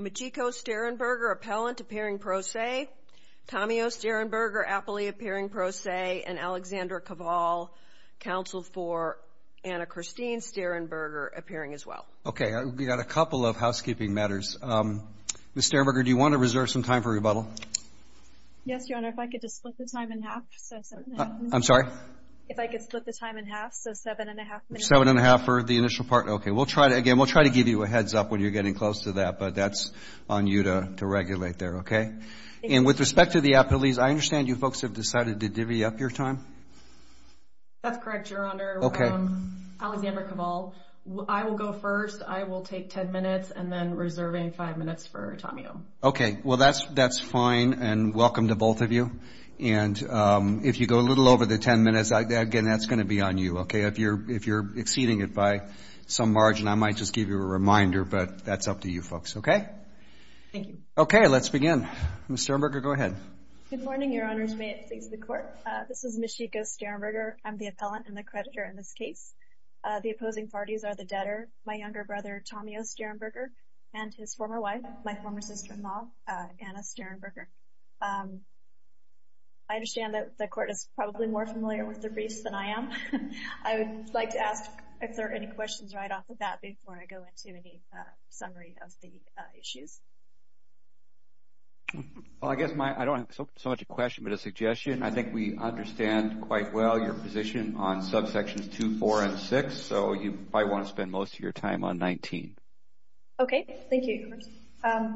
Michiko Stehrenberger, appellant, appearing pro se, Tommy O. Stehrenberger, appellee, appearing pro se, and Alexandra Cavall, counsel for Anna Christine Stehrenberger, appearing as well. Okay. We've got a couple of housekeeping matters. Ms. Stehrenberger, do you want to reserve some time for rebuttal? Yes, Your Honor. If I could just split the time in half. I'm sorry? If I could split the time in half. So seven and a half minutes. Seven and a half for the initial part. Okay. Again, we'll try to give you a heads up when you're getting close to that, but that's on you to regulate there, okay? And with respect to the appellees, I understand you folks have decided to divvy up your time? That's correct, Your Honor. Okay. Alexandra Cavall. I will go first. I will take ten minutes, and then reserving five minutes for Tommy O. Okay. Well, that's fine, and welcome to both of you. And if you go a little over the ten minutes, again, that's going to be on you, okay? If you're exceeding it by some margin, I might just give you a reminder, but that's up to you folks. Okay? Thank you. Okay. Let's begin. Ms. Stehrenberger, go ahead. Good morning, Your Honors. May it please the Court. This is Ms. Chico Stehrenberger. I'm the appellant and the creditor in this case. The opposing parties are the debtor, my younger brother, Tommy O. Stehrenberger, and his former wife, my former sister-in-law, Anna Stehrenberger. I understand that the Court is probably more familiar with their briefs than I am. I would like to ask if there are any questions right off the bat before I go into any summary of the issues. Well, I guess I don't have so much a question but a suggestion. I think we understand quite well your position on subsections 2, 4, and 6, so you probably want to spend most of your time on 19. Okay. Thank you.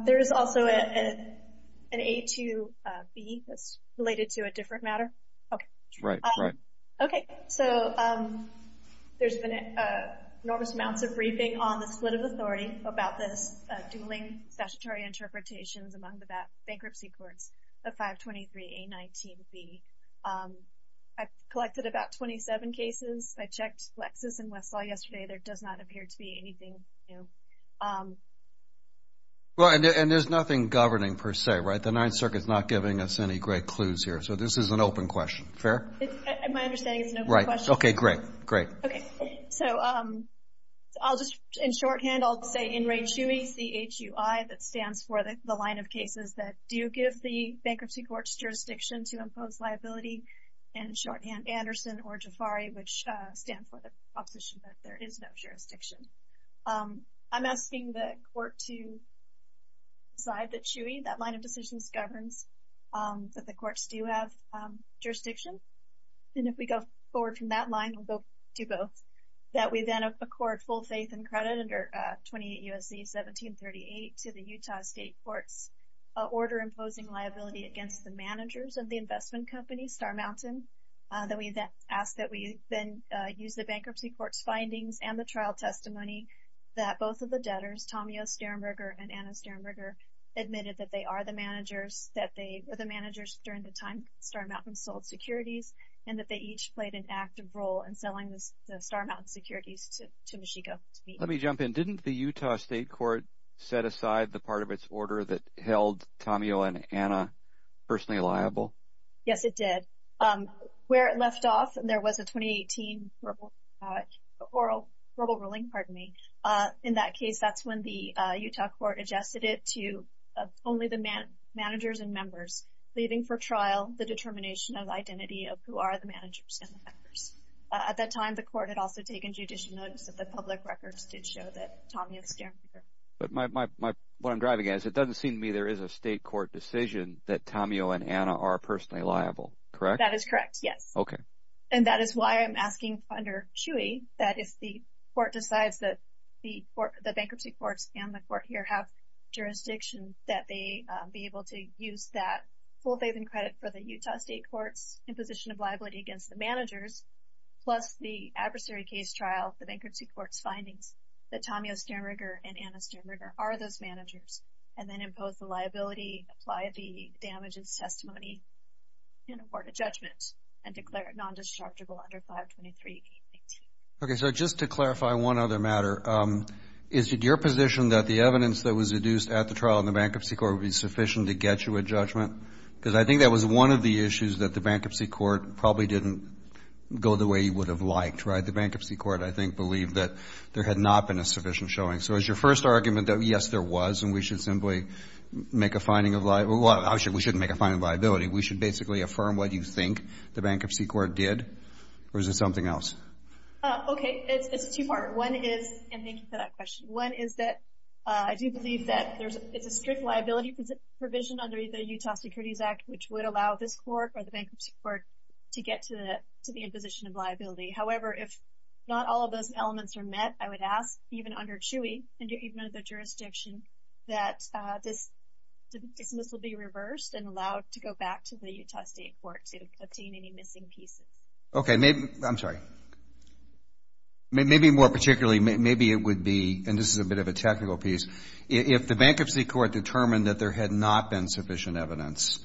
There is also an A2B that's related to a different matter. That's right. Okay. So there's been enormous amounts of briefing on the split of authority about this, dueling statutory interpretations among the bankruptcy courts, the 523A19B. I've collected about 27 cases. I checked Lexis and Westlaw yesterday. There does not appear to be anything new. Well, and there's nothing governing per se, right? The Ninth Circuit is not giving us any great clues here, so this is an open question. Fair? My understanding is it's an open question. Right. Okay. Great. Okay. So I'll just, in shorthand, I'll say in re chui, C-H-U-I, that stands for the line of cases that do give the bankruptcy court's jurisdiction to impose liability, and in shorthand, Anderson or Jafari, which stand for the proposition that there is no jurisdiction. I'm asking the court to decide that shui, that line of decisions, governs that the courts do have jurisdiction, and if we go forward from that line, we'll go to both, that we then accord full faith and credit under 28 U.S.C. 1738 to the Utah State Court's order imposing liability against the managers of the investment company, Star Mountain, that we then ask that we then use the bankruptcy court's findings and the trial testimony that both of the debtors, Tamio Sternberger and Anna Sternberger, admitted that they are the managers, that they were the managers during the time Star Mountain sold securities and that they each played an active role in selling the Star Mountain securities to Michiko. Let me jump in. Didn't the Utah State Court set aside the part of its order that held Tamio and Anna personally liable? Yes, it did. Where it left off, there was a 2018 verbal ruling. In that case, that's when the Utah Court adjusted it to only the managers and members, leaving for trial the determination of identity of who are the managers and the members. At that time, the court had also taken judicial notice that the public records did show that Tamio Sternberger. What I'm driving at is it doesn't seem to me there is a state court decision that Tamio and Anna are personally liable, correct? That is correct, yes. Okay. And that is why I'm asking under CHUI that if the court decides that the bankruptcy courts and the court here have jurisdiction that they be able to use that full faith and credit for the Utah State Court's imposition of liability against the managers plus the adversary case trial, the bankruptcy court's findings, that Tamio Sternberger and Anna Sternberger are those managers and then impose the liability, apply the damages testimony, and award a judgment and declare it non-destructible under 523.18. Okay, so just to clarify one other matter, is it your position that the evidence that was deduced at the trial in the bankruptcy court would be sufficient to get you a judgment? Because I think that was one of the issues that the bankruptcy court probably didn't go the way you would have liked. The bankruptcy court, I think, believed that there had not been a sufficient showing. So is your first argument that, yes, there was and we should simply make a finding of liability? Well, we shouldn't make a finding of liability. We should basically affirm what you think the bankruptcy court did? Or is it something else? Okay, it's two-part. One is, and thank you for that question, one is that I do believe that it's a strict liability provision under the Utah Securities Act which would allow this court or the bankruptcy court to get to the imposition of liability. However, if not all of those elements are met, I would ask, even under CHEWI and even under the jurisdiction, that this dismissal be reversed and allowed to go back to the Utah State Court to obtain any missing pieces. Okay, maybe, I'm sorry, maybe more particularly, maybe it would be, and this is a bit of a technical piece, if the bankruptcy court determined that there had not been sufficient evidence,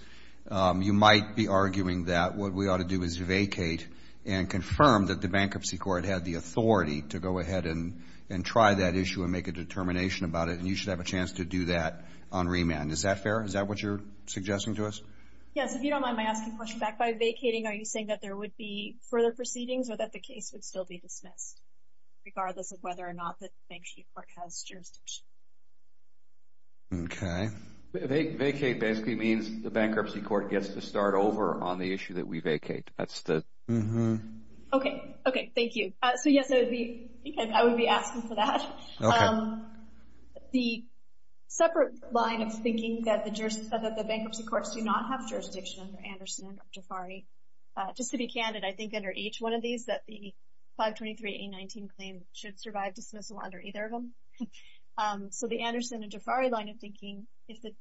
you might be arguing that what we ought to do is vacate and confirm that the bankruptcy court had the authority to go ahead and try that issue and make a determination about it, and you should have a chance to do that on remand. Is that fair? Is that what you're suggesting to us? Yes, if you don't mind my asking the question back, by vacating, are you saying that there would be further proceedings or that the case would still be dismissed, regardless of whether or not the bankruptcy court has jurisdiction? Okay. Vacate basically means the bankruptcy court gets to start over on the issue that we vacate. That's the... Okay, okay, thank you. So, yes, I would be asking for that. Okay. The separate line of thinking that the bankruptcy courts do not have jurisdiction under Anderson or Jafari, just to be candid, I think under each one of these that the 523.819 claim should survive dismissal under either of them. So the Anderson and Jafari line of thinking, if the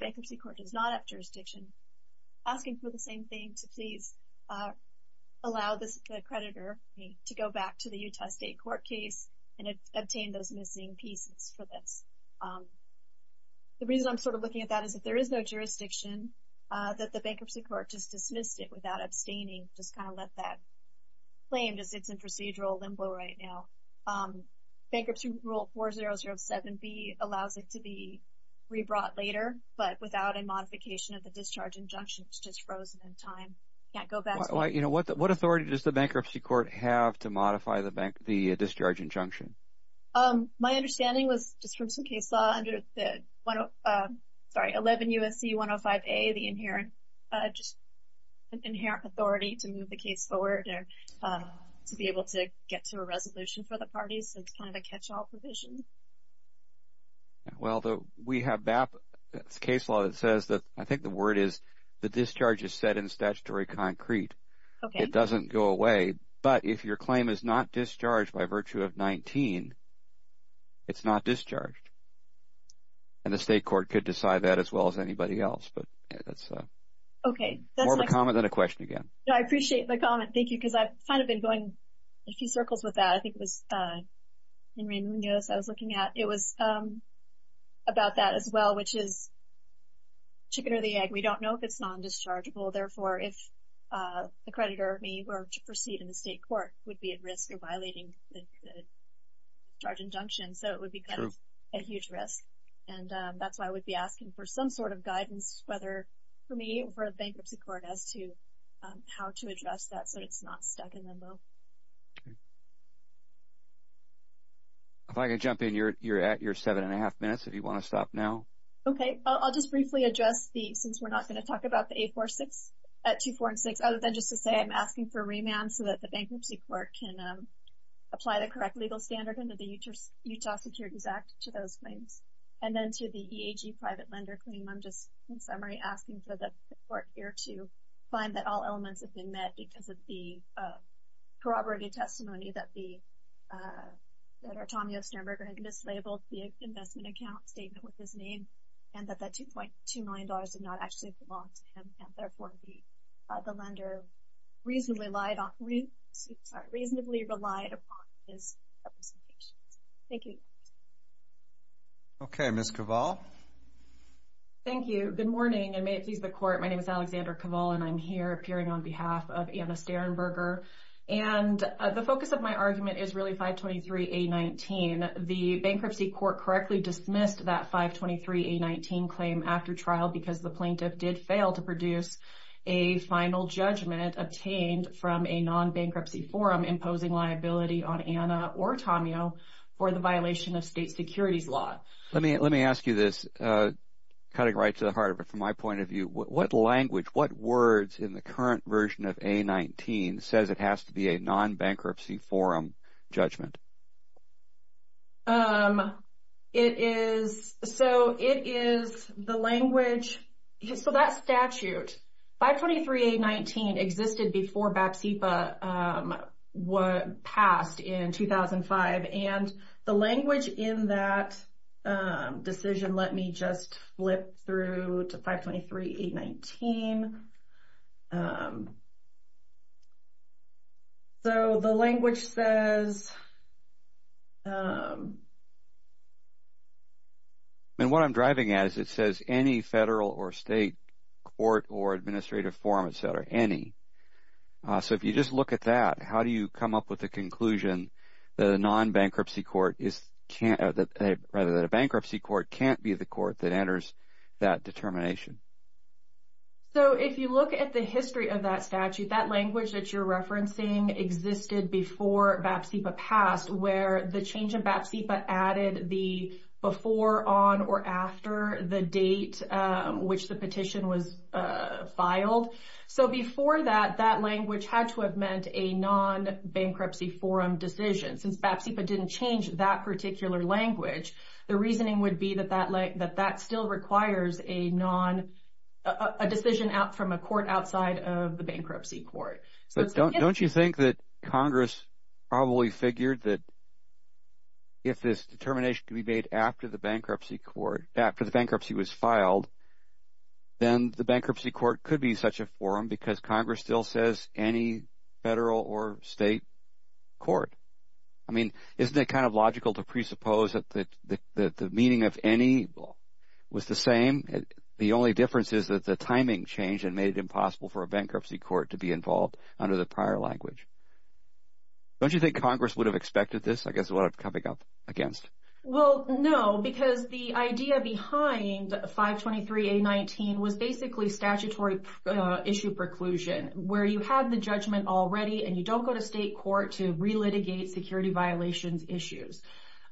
bankruptcy court does not have jurisdiction, asking for the same thing to please allow the creditor to go back to the Utah State Court case and obtain those missing pieces for this. The reason I'm sort of looking at that is if there is no jurisdiction, that the bankruptcy court just dismissed it without abstaining, just kind of let that claim as it's in procedural limbo right now. Bankruptcy rule 4007B allows it to be rebrought later, but without a modification of the discharge injunction, it's just frozen in time, can't go back to it. What authority does the bankruptcy court have to modify the discharge injunction? My understanding was just from some case law under the 11 U.S.C. 105A, the inherent authority to move the case forward to be able to get to a resolution for the parties. It's kind of a catch-all provision. Well, we have BAP case law that says that, I think the word is, the discharge is set in statutory concrete. It doesn't go away. But if your claim is not discharged by virtue of 19, it's not discharged. And the state court could decide that as well as anybody else. More of a comment than a question again. No, I appreciate the comment. Thank you, because I've kind of been going a few circles with that. I think it was in Ray Munoz I was looking at. It was about that as well, which is chicken or the egg. We don't know if it's non-dischargeable. Therefore, if the creditor, me, were to proceed in the state court, we'd be at risk of violating the discharge injunction. So it would be kind of a huge risk. And that's why I would be asking for some sort of guidance, whether for me or for the bankruptcy court, as to how to address that so it's not stuck in limbo. If I could jump in, you're at your seven and a half minutes if you want to stop now. Okay. I'll just briefly address the, since we're not going to talk about the 846 at 246, other than just to say I'm asking for a remand so that the bankruptcy court can apply the correct legal standard under the Utah Securities Act to those claims. And then to the EAG private lender claim, I'm just in summary asking for the court here to find that all elements have been met because of the corroborated testimony that the, that our Tommy Osterberger had mislabeled the investment account statement with his name and that that $2.2 million did not actually belong to him and therefore the lender reasonably relied upon his representations. Thank you. Okay. Ms. Cavall. Thank you. Good morning and may it please the court. My name is Alexandra Cavall and I'm here appearing on behalf of Anna Sternberger. And the focus of my argument is really 523A19. The bankruptcy court correctly dismissed that 523A19 claim after trial because the plaintiff did fail to produce a final judgment obtained from a non-bankruptcy forum imposing liability on Anna or Tommy O for the violation of state securities law. Let me ask you this, cutting right to the heart of it from my point of view. What language, what words in the current version of A19 says it has to be a non-bankruptcy forum judgment? It is, so it is the language, so that statute, 523A19 existed before BATSEPA passed in 2005. And the language in that decision, let me just flip through to 523A19. So the language says. And what I'm driving at is it says any federal or state court or administrative forum, et cetera, any. So if you just look at that, how do you come up with a conclusion that a non-bankruptcy court is – rather that a bankruptcy court can't be the court that enters that determination? So if you look at the history of that statute, that language that you're referencing existed before BATSEPA passed where the change in BATSEPA added the before, on, or after the date which the petition was filed. So before that, that language had to have meant a non-bankruptcy forum decision. Since BATSEPA didn't change that particular language, the reasoning would be that that still requires a decision from a court outside of the bankruptcy court. But don't you think that Congress probably figured that if this determination can be made after the bankruptcy court, after the bankruptcy was filed, then the bankruptcy court could be such a forum because Congress still says any federal or state court. I mean, isn't it kind of logical to presuppose that the meaning of any was the same? The only difference is that the timing changed and made it impossible for a bankruptcy court to be involved under the prior language. Don't you think Congress would have expected this? I guess what I'm coming up against. Well, no, because the idea behind 523A19 was basically statutory issue preclusion where you have the judgment already and you don't go to state court to relitigate security violations issues.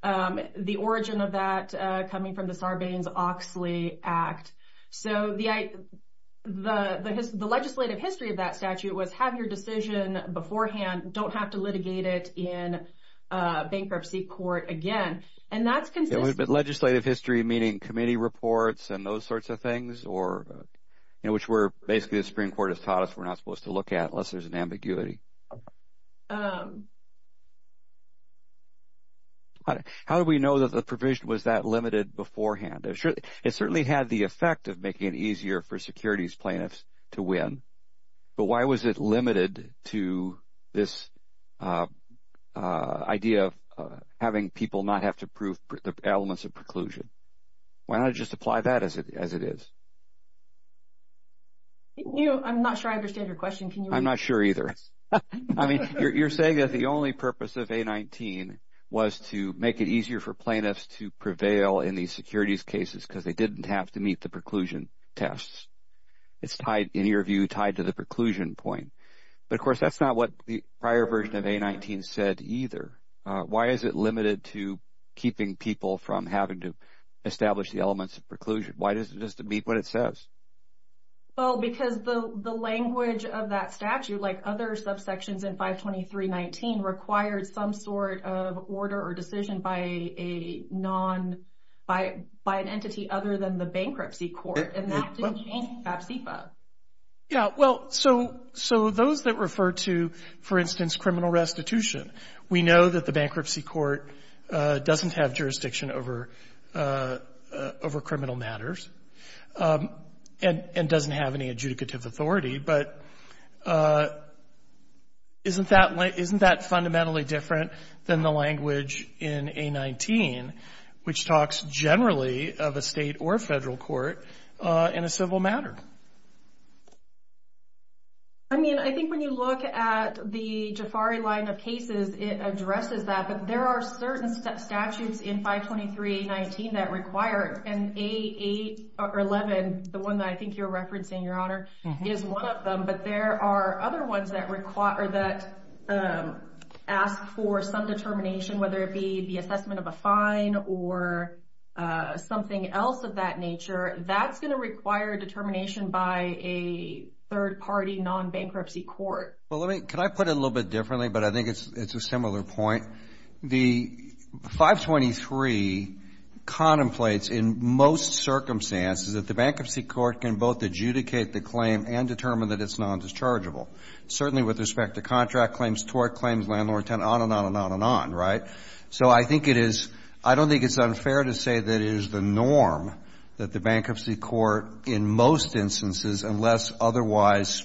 The origin of that coming from the Sarbanes-Oxley Act. So the legislative history of that statute was have your decision beforehand, don't have to litigate it in bankruptcy court again, and that's consistent. But legislative history meaning committee reports and those sorts of things, which basically the Supreme Court has taught us we're not supposed to look at unless there's an ambiguity. How do we know that the provision was that limited beforehand? It certainly had the effect of making it easier for securities plaintiffs to win, but why was it limited to this idea of having people not have to prove the elements of preclusion? Why not just apply that as it is? I'm not sure I understand your question. I'm not sure either. I mean you're saying that the only purpose of A19 was to make it easier for plaintiffs to prevail in these securities cases because they didn't have to meet the preclusion tests. It's tied, in your view, tied to the preclusion point. But, of course, that's not what the prior version of A19 said either. Why is it limited to keeping people from having to establish the elements of preclusion? Why does it just meet what it says? Well, because the language of that statute, like other subsections in 523.19, required some sort of order or decision by an entity other than the bankruptcy court, and that didn't change in FAPCPA. Yeah. Well, so those that refer to, for instance, criminal restitution, we know that the bankruptcy court doesn't have jurisdiction over criminal matters and doesn't have any adjudicative authority. But isn't that fundamentally different than the language in A19, which talks generally of a state or federal court in a civil matter? I mean, I think when you look at the Jafari line of cases, it addresses that. But there are certain statutes in 523.19 that require it. And A8 or 11, the one that I think you're referencing, Your Honor, is one of them. But there are other ones that ask for some determination, whether it be the assessment of a fine or something else of that nature. That's going to require determination by a third-party non-bankruptcy court. Well, can I put it a little bit differently, but I think it's a similar point? The 523 contemplates in most circumstances that the bankruptcy court can both adjudicate the claim and determine that it's nondischargeable, certainly with respect to contract claims, tort claims, landlord-tenant, on and on and on and on, right? So I think it is — I don't think it's unfair to say that it is the norm that the bankruptcy court in most instances, unless otherwise,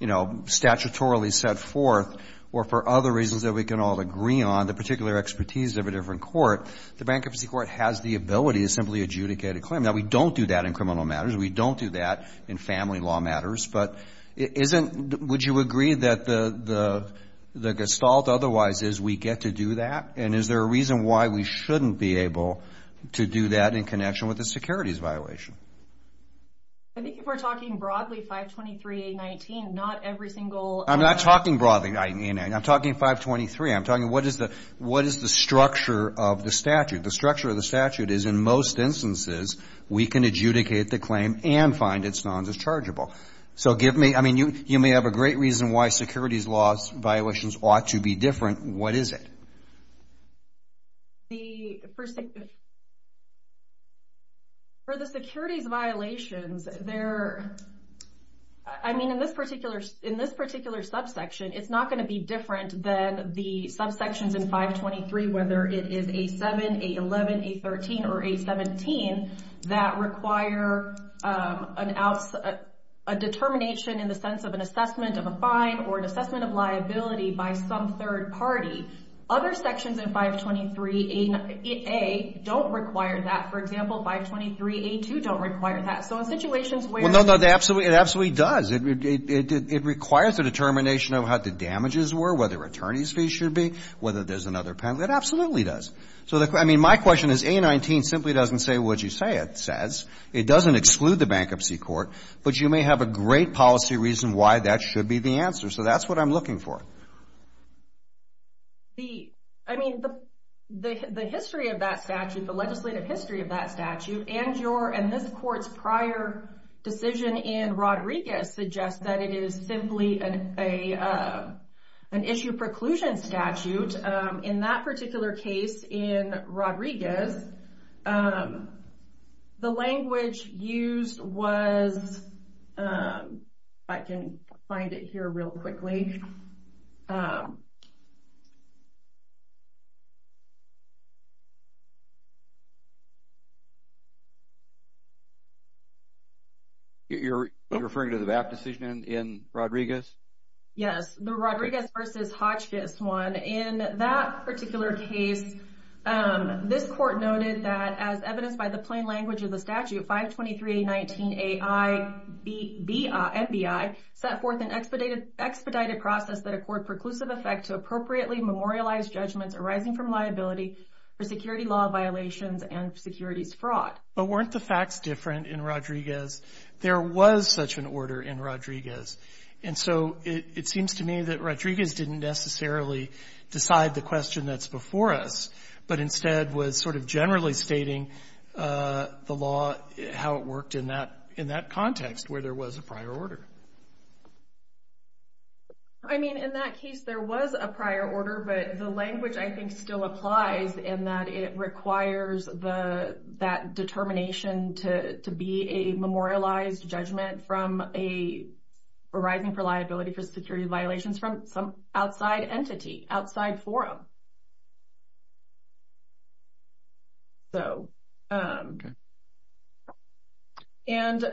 you know, statutorily set forth or for other reasons that we can all agree on, the particular expertise of a different court, the bankruptcy court has the ability to simply adjudicate a claim. Now, we don't do that in criminal matters. We don't do that in family law matters. But would you agree that the gestalt otherwise is we get to do that? And is there a reason why we shouldn't be able to do that in connection with a securities violation? I think if we're talking broadly, 523.19, not every single — I'm not talking broadly. I'm talking 523. I'm talking what is the structure of the statute. The structure of the statute is in most instances, we can adjudicate the claim and find it's non-dischargeable. So give me — I mean, you may have a great reason why securities laws violations ought to be different. What is it? The — for the securities violations, they're — I mean, in this particular subsection, it's not going to be different than the subsections in 523, whether it is A7, A11, A13, or A17, that require an — a determination in the sense of an assessment of a fine or an assessment of liability by some third party. Other sections in 523A don't require that. For example, 523A2 don't require that. So in situations where — Well, no, no. It absolutely does. It requires a determination of how the damages were, whether attorney's fees should be, whether there's another penalty. It absolutely does. So, I mean, my question is, A19 simply doesn't say what you say it says. It doesn't exclude the bankruptcy court. But you may have a great policy reason why that should be the answer. So that's what I'm looking for. The — I mean, the history of that statute, the legislative history of that statute, and your — and this court's prior decision in Rodriguez suggests that it is simply an issue preclusion statute. In that particular case in Rodriguez, the language used was — I can find it here real quickly. You're referring to the VAP decision in Rodriguez? Yes, the Rodriguez versus Hotchkiss one. In that particular case, this court noted that, as evidenced by the plain language of the statute, 523A19AI-NBI set forth an expedited process that accord preclusive effect to appropriately memorialized judgments arising from liability for security law violations and securities fraud. But weren't the facts different in Rodriguez? There was such an order in Rodriguez. And so it seems to me that Rodriguez didn't necessarily decide the question that's before us, but instead was sort of generally stating the law, how it worked in that context where there was a prior order. I mean, in that case, there was a prior order. But the language, I think, still applies in that it requires that determination to be a memorialized judgment from a — arising for liability for security violations from some outside entity, outside forum. And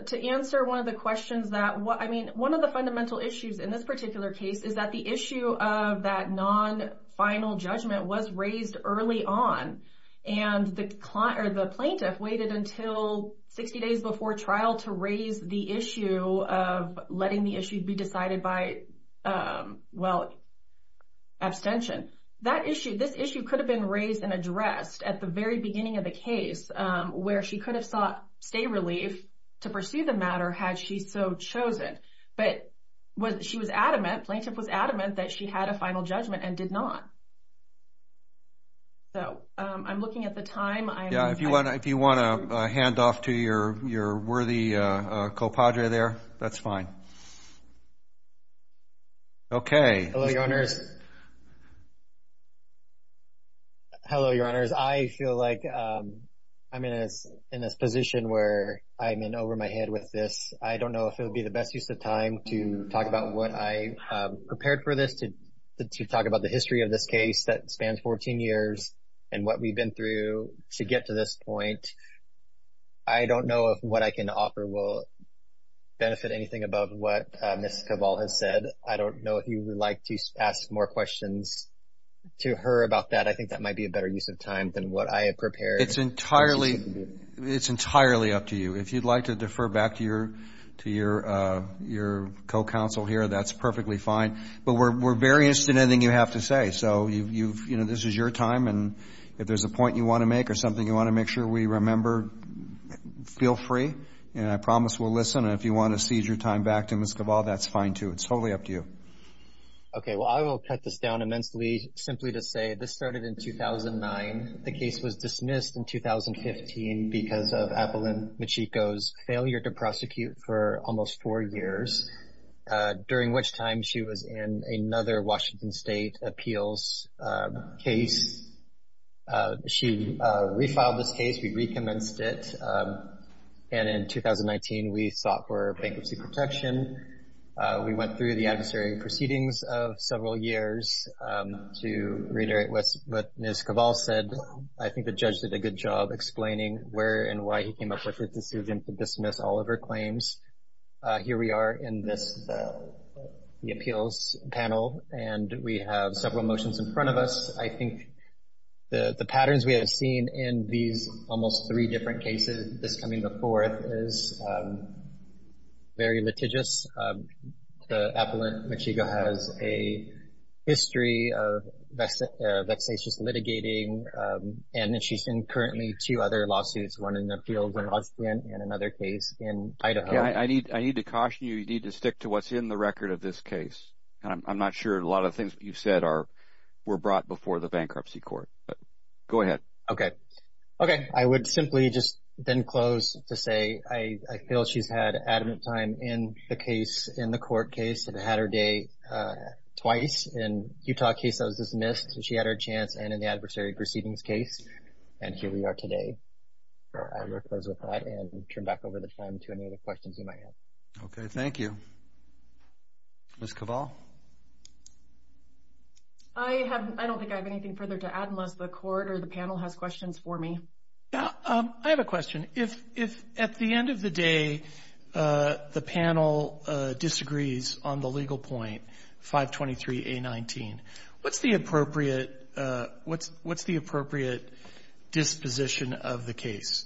to answer one of the questions that — I mean, one of the fundamental issues in this particular case is that the issue of that non-final judgment was raised early on. And the plaintiff waited until 60 days before trial to raise the issue of letting the issue be decided by, well, abstention. That issue, this issue could have been raised and addressed at the very beginning of the case, where she could have sought state relief to pursue the matter had she so chosen. But she was adamant, plaintiff was adamant that she had a final judgment and did not. So I'm looking at the time. Yeah, if you want to hand off to your worthy co-padre there, that's fine. Okay. Hello, Your Honors. I feel like I'm in this position where I'm in over my head with this. I don't know if it would be the best use of time to talk about what I prepared for this, to talk about the history of this case that spans 14 years and what we've been through to get to this point. I don't know if what I can offer will benefit anything above what Ms. Cavall has said. I don't know if you would like to ask more questions to her about that. I think that might be a better use of time than what I have prepared. It's entirely up to you. If you'd like to defer back to your co-counsel here, that's perfectly fine. But we're very interested in anything you have to say. So, you know, this is your time. And if there's a point you want to make or something you want to make sure we remember, feel free. And I promise we'll listen. And if you want to seize your time back to Ms. Cavall, that's fine too. It's totally up to you. Okay. Well, I will cut this down immensely simply to say this started in 2009. The case was dismissed in 2015 because of Abilene Machiko's failure to prosecute for almost four years, during which time she was in another Washington State appeals case. She refiled this case. We recommenced it. And in 2019, we sought for bankruptcy protection. We went through the adversary proceedings of several years to reiterate what Ms. Cavall said. I think the judge did a good job explaining where and why he came up with the decision to dismiss all of her claims. Here we are in this appeals panel, and we have several motions in front of us. I think the patterns we have seen in these almost three different cases, this coming the fourth, is very litigious. Abilene Machiko has a history of vexatious litigating, and she's in currently two other lawsuits, one in the appeals in Washington and another case in Idaho. I need to caution you. You need to stick to what's in the record of this case. I'm not sure a lot of the things that you've said were brought before the bankruptcy court. Go ahead. Okay. Okay. I would simply just then close to say I feel she's had adamant time in the case, in the court case, and had her day twice in the Utah case that was dismissed. She had her chance, and in the adversary proceedings case, and here we are today. I will close with that and turn back over the time to any other questions you might have. Okay. Thank you. Ms. Cavall? I don't think I have anything further to add unless the court or the panel has questions for me. I have a question. At the end of the day, the panel disagrees on the legal point, 523A19. What's the appropriate disposition of the case?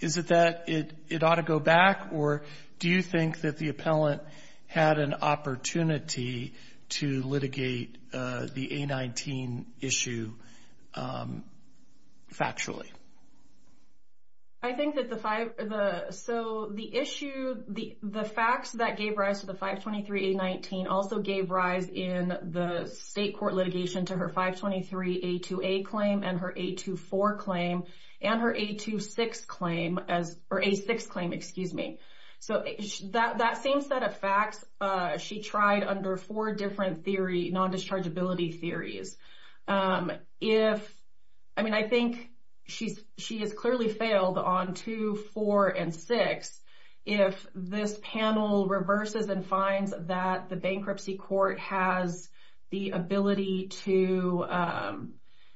Is it that it ought to go back, or do you think that the appellant had an opportunity to litigate the A19 issue factually? I think that the five, so the issue, the facts that gave rise to the 523A19 also gave rise in the state court litigation to her 523A2A claim and her A24 claim and her A26 claim, or A6 claim, excuse me. So that same set of facts she tried under four different theory, non-dischargeability theories. If, I mean, I think she has clearly failed on two, four, and six. If this panel reverses and finds that the bankruptcy court has the ability to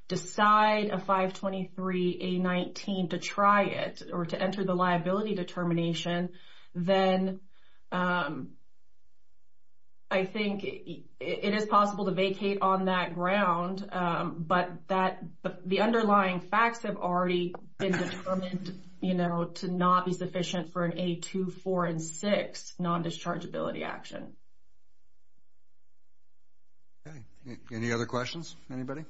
decide a 523A19 to try it or to enter the liability determination, then I think it is possible to vacate on that ground, but the underlying facts have already been determined to not be sufficient for an A24 and A6 non-dischargeability action. Any other questions for anybody?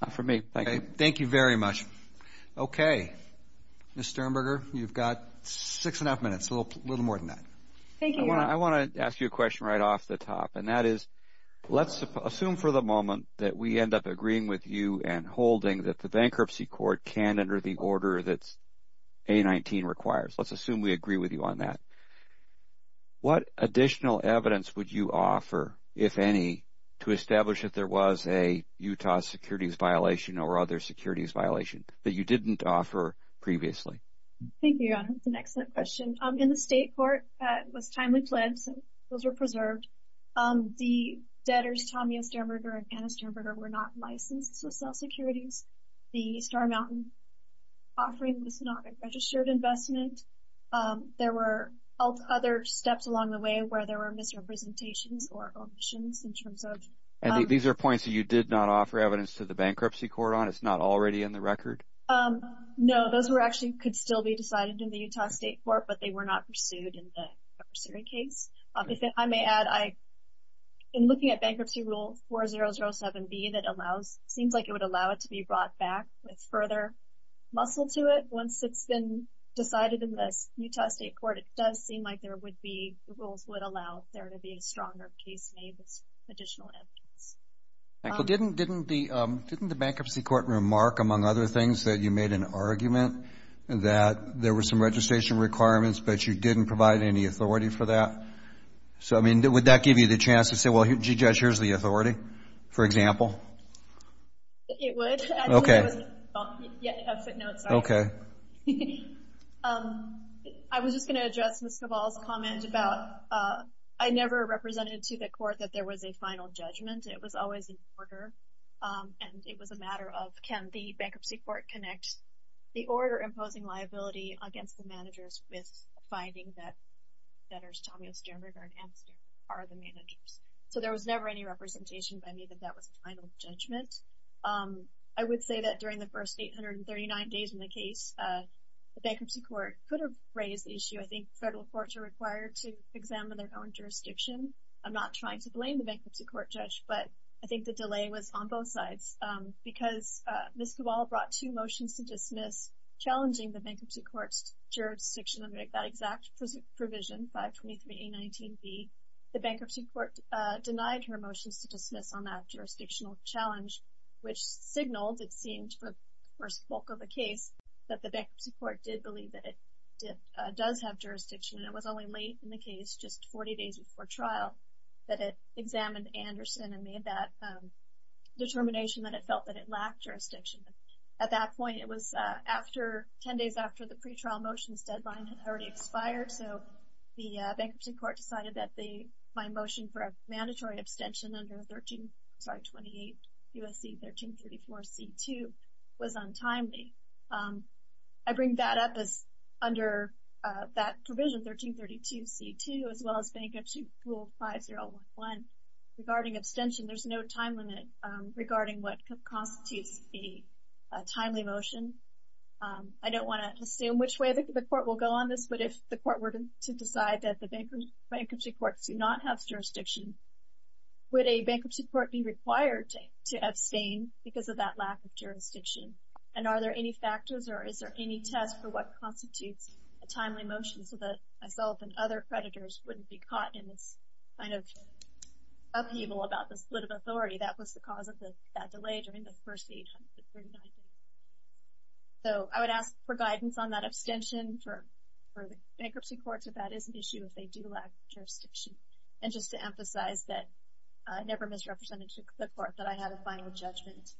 Not for me, thank you. Thank you very much. Okay. Ms. Sternberger, you've got six and a half minutes, a little more than that. Thank you. I want to ask you a question right off the top, and that is let's assume for the moment that we end up agreeing with you and holding that the bankruptcy court can enter the order that A19 requires. Let's assume we agree with you on that. What additional evidence would you offer, if any, to establish if there was a Utah securities violation or other securities violation that you didn't offer previously? Thank you, Your Honor. That's an excellent question. In the state court, it was timely pledged, so those were preserved. The debtors, Tommy S. Sternberger and Anna Sternberger, were not licensed to sell securities. The Star Mountain offering was not a registered investment. There were other steps along the way where there were misrepresentations or omissions in terms of – And these are points that you did not offer evidence to the bankruptcy court on? It's not already in the record? No. Those were actually – could still be decided in the Utah State Court, but they were not pursued in the cursory case. If I may add, in looking at Bankruptcy Rule 4007B, it seems like it would allow it to be brought back with further muscle to it Once it's been decided in the Utah State Court, it does seem like the rules would allow there to be a stronger case made with additional evidence. Didn't the bankruptcy court remark, among other things, that you made an argument that there were some registration requirements, but you didn't provide any authority for that? Would that give you the chance to say, well, Judge, here's the authority, for example? It would. Okay. Okay. I was just going to address Ms. Cabal's comment about – I never represented to the court that there was a final judgment. It was always an order, and it was a matter of, can the bankruptcy court connect the order imposing liability against the managers with finding that debtors, Tommy Osterberg and Ann Sternberg, are the managers? So there was never any representation by me that that was a final judgment. I would say that during the first 839 days in the case, the bankruptcy court could have raised the issue. I think federal courts are required to examine their own jurisdiction. I'm not trying to blame the bankruptcy court, Judge, but I think the delay was on both sides because Ms. Cabal brought two motions to dismiss challenging the bankruptcy court's jurisdiction under that exact provision, 523A19B. The bankruptcy court denied her motions to dismiss on that jurisdictional challenge, which signaled, it seemed, for the bulk of the case, that the bankruptcy court did believe that it does have jurisdiction. And it was only late in the case, just 40 days before trial, that it examined Anderson and made that determination that it felt that it lacked jurisdiction. At that point, it was after – 10 days after the pretrial motions deadline had already expired. So the bankruptcy court decided that my motion for a mandatory abstention under 13 – sorry, 28 U.S.C. 1334C2 was untimely. I bring that up as under that provision, 1332C2, as well as Bankruptcy Rule 5011. Regarding abstention, there's no time limit regarding what constitutes a timely motion. I don't want to assume which way the court will go on this, but if the court were to decide that the bankruptcy court do not have jurisdiction, would a bankruptcy court be required to abstain because of that lack of jurisdiction? And are there any factors, or is there any test for what constitutes a timely motion so that myself and other predators wouldn't be caught in this kind of upheaval about the split of authority? That was the cause of that delay during the first 800 to 3900. So I would ask for guidance on that abstention for the bankruptcy courts, if that is an issue, if they do lack jurisdiction. And just to emphasize that I never misrepresented the court, that I had a final judgment.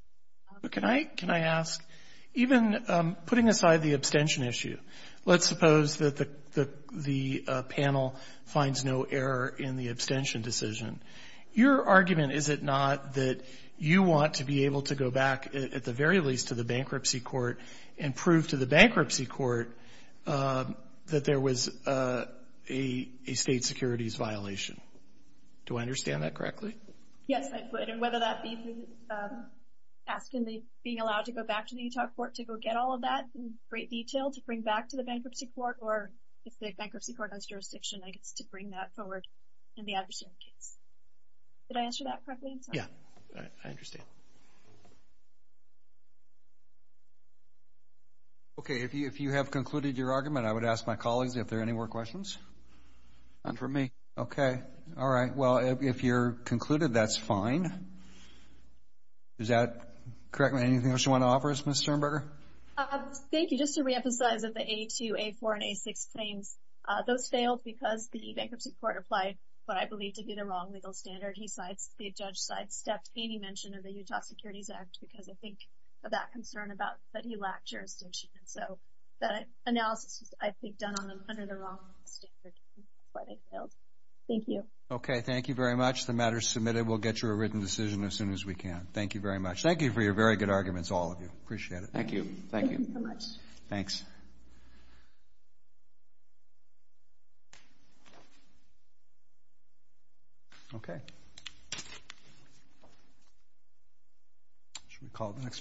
Can I ask, even putting aside the abstention issue, let's suppose that the panel finds no error in the abstention decision. Your argument, is it not, that you want to be able to go back, at the very least, to the bankruptcy court and prove to the bankruptcy court that there was a state securities violation? Do I understand that correctly? Yes, I would. And whether that be through asking, being allowed to go back to the Utah court to go get all of that in great detail to bring back to the bankruptcy court, or if the bankruptcy court has jurisdiction, I guess, to bring that forward in the abstention case. Did I answer that correctly? Yes, I understand. Okay, if you have concluded your argument, I would ask my colleagues if there are any more questions. None from me. Okay, all right. Well, if you're concluded, that's fine. Is that correct? Anything else you want to offer us, Ms. Sternberger? Thank you. Just to reemphasize that the A2, A4, and A6 claims, those failed because the bankruptcy court applied what I believe to be the wrong legal standard. The judge sidestepped any mention of the Utah Securities Act because, I think, of that concern about that he lacked jurisdiction. And so that analysis was, I think, done under the wrong legal standard. Thank you. Okay, thank you very much. The matter is submitted. We'll get you a written decision as soon as we can. Thank you very much. Thank you for your very good arguments, all of you. Appreciate it. Thank you. Thank you. Thank you very much. Okay. Shall we call the next matter?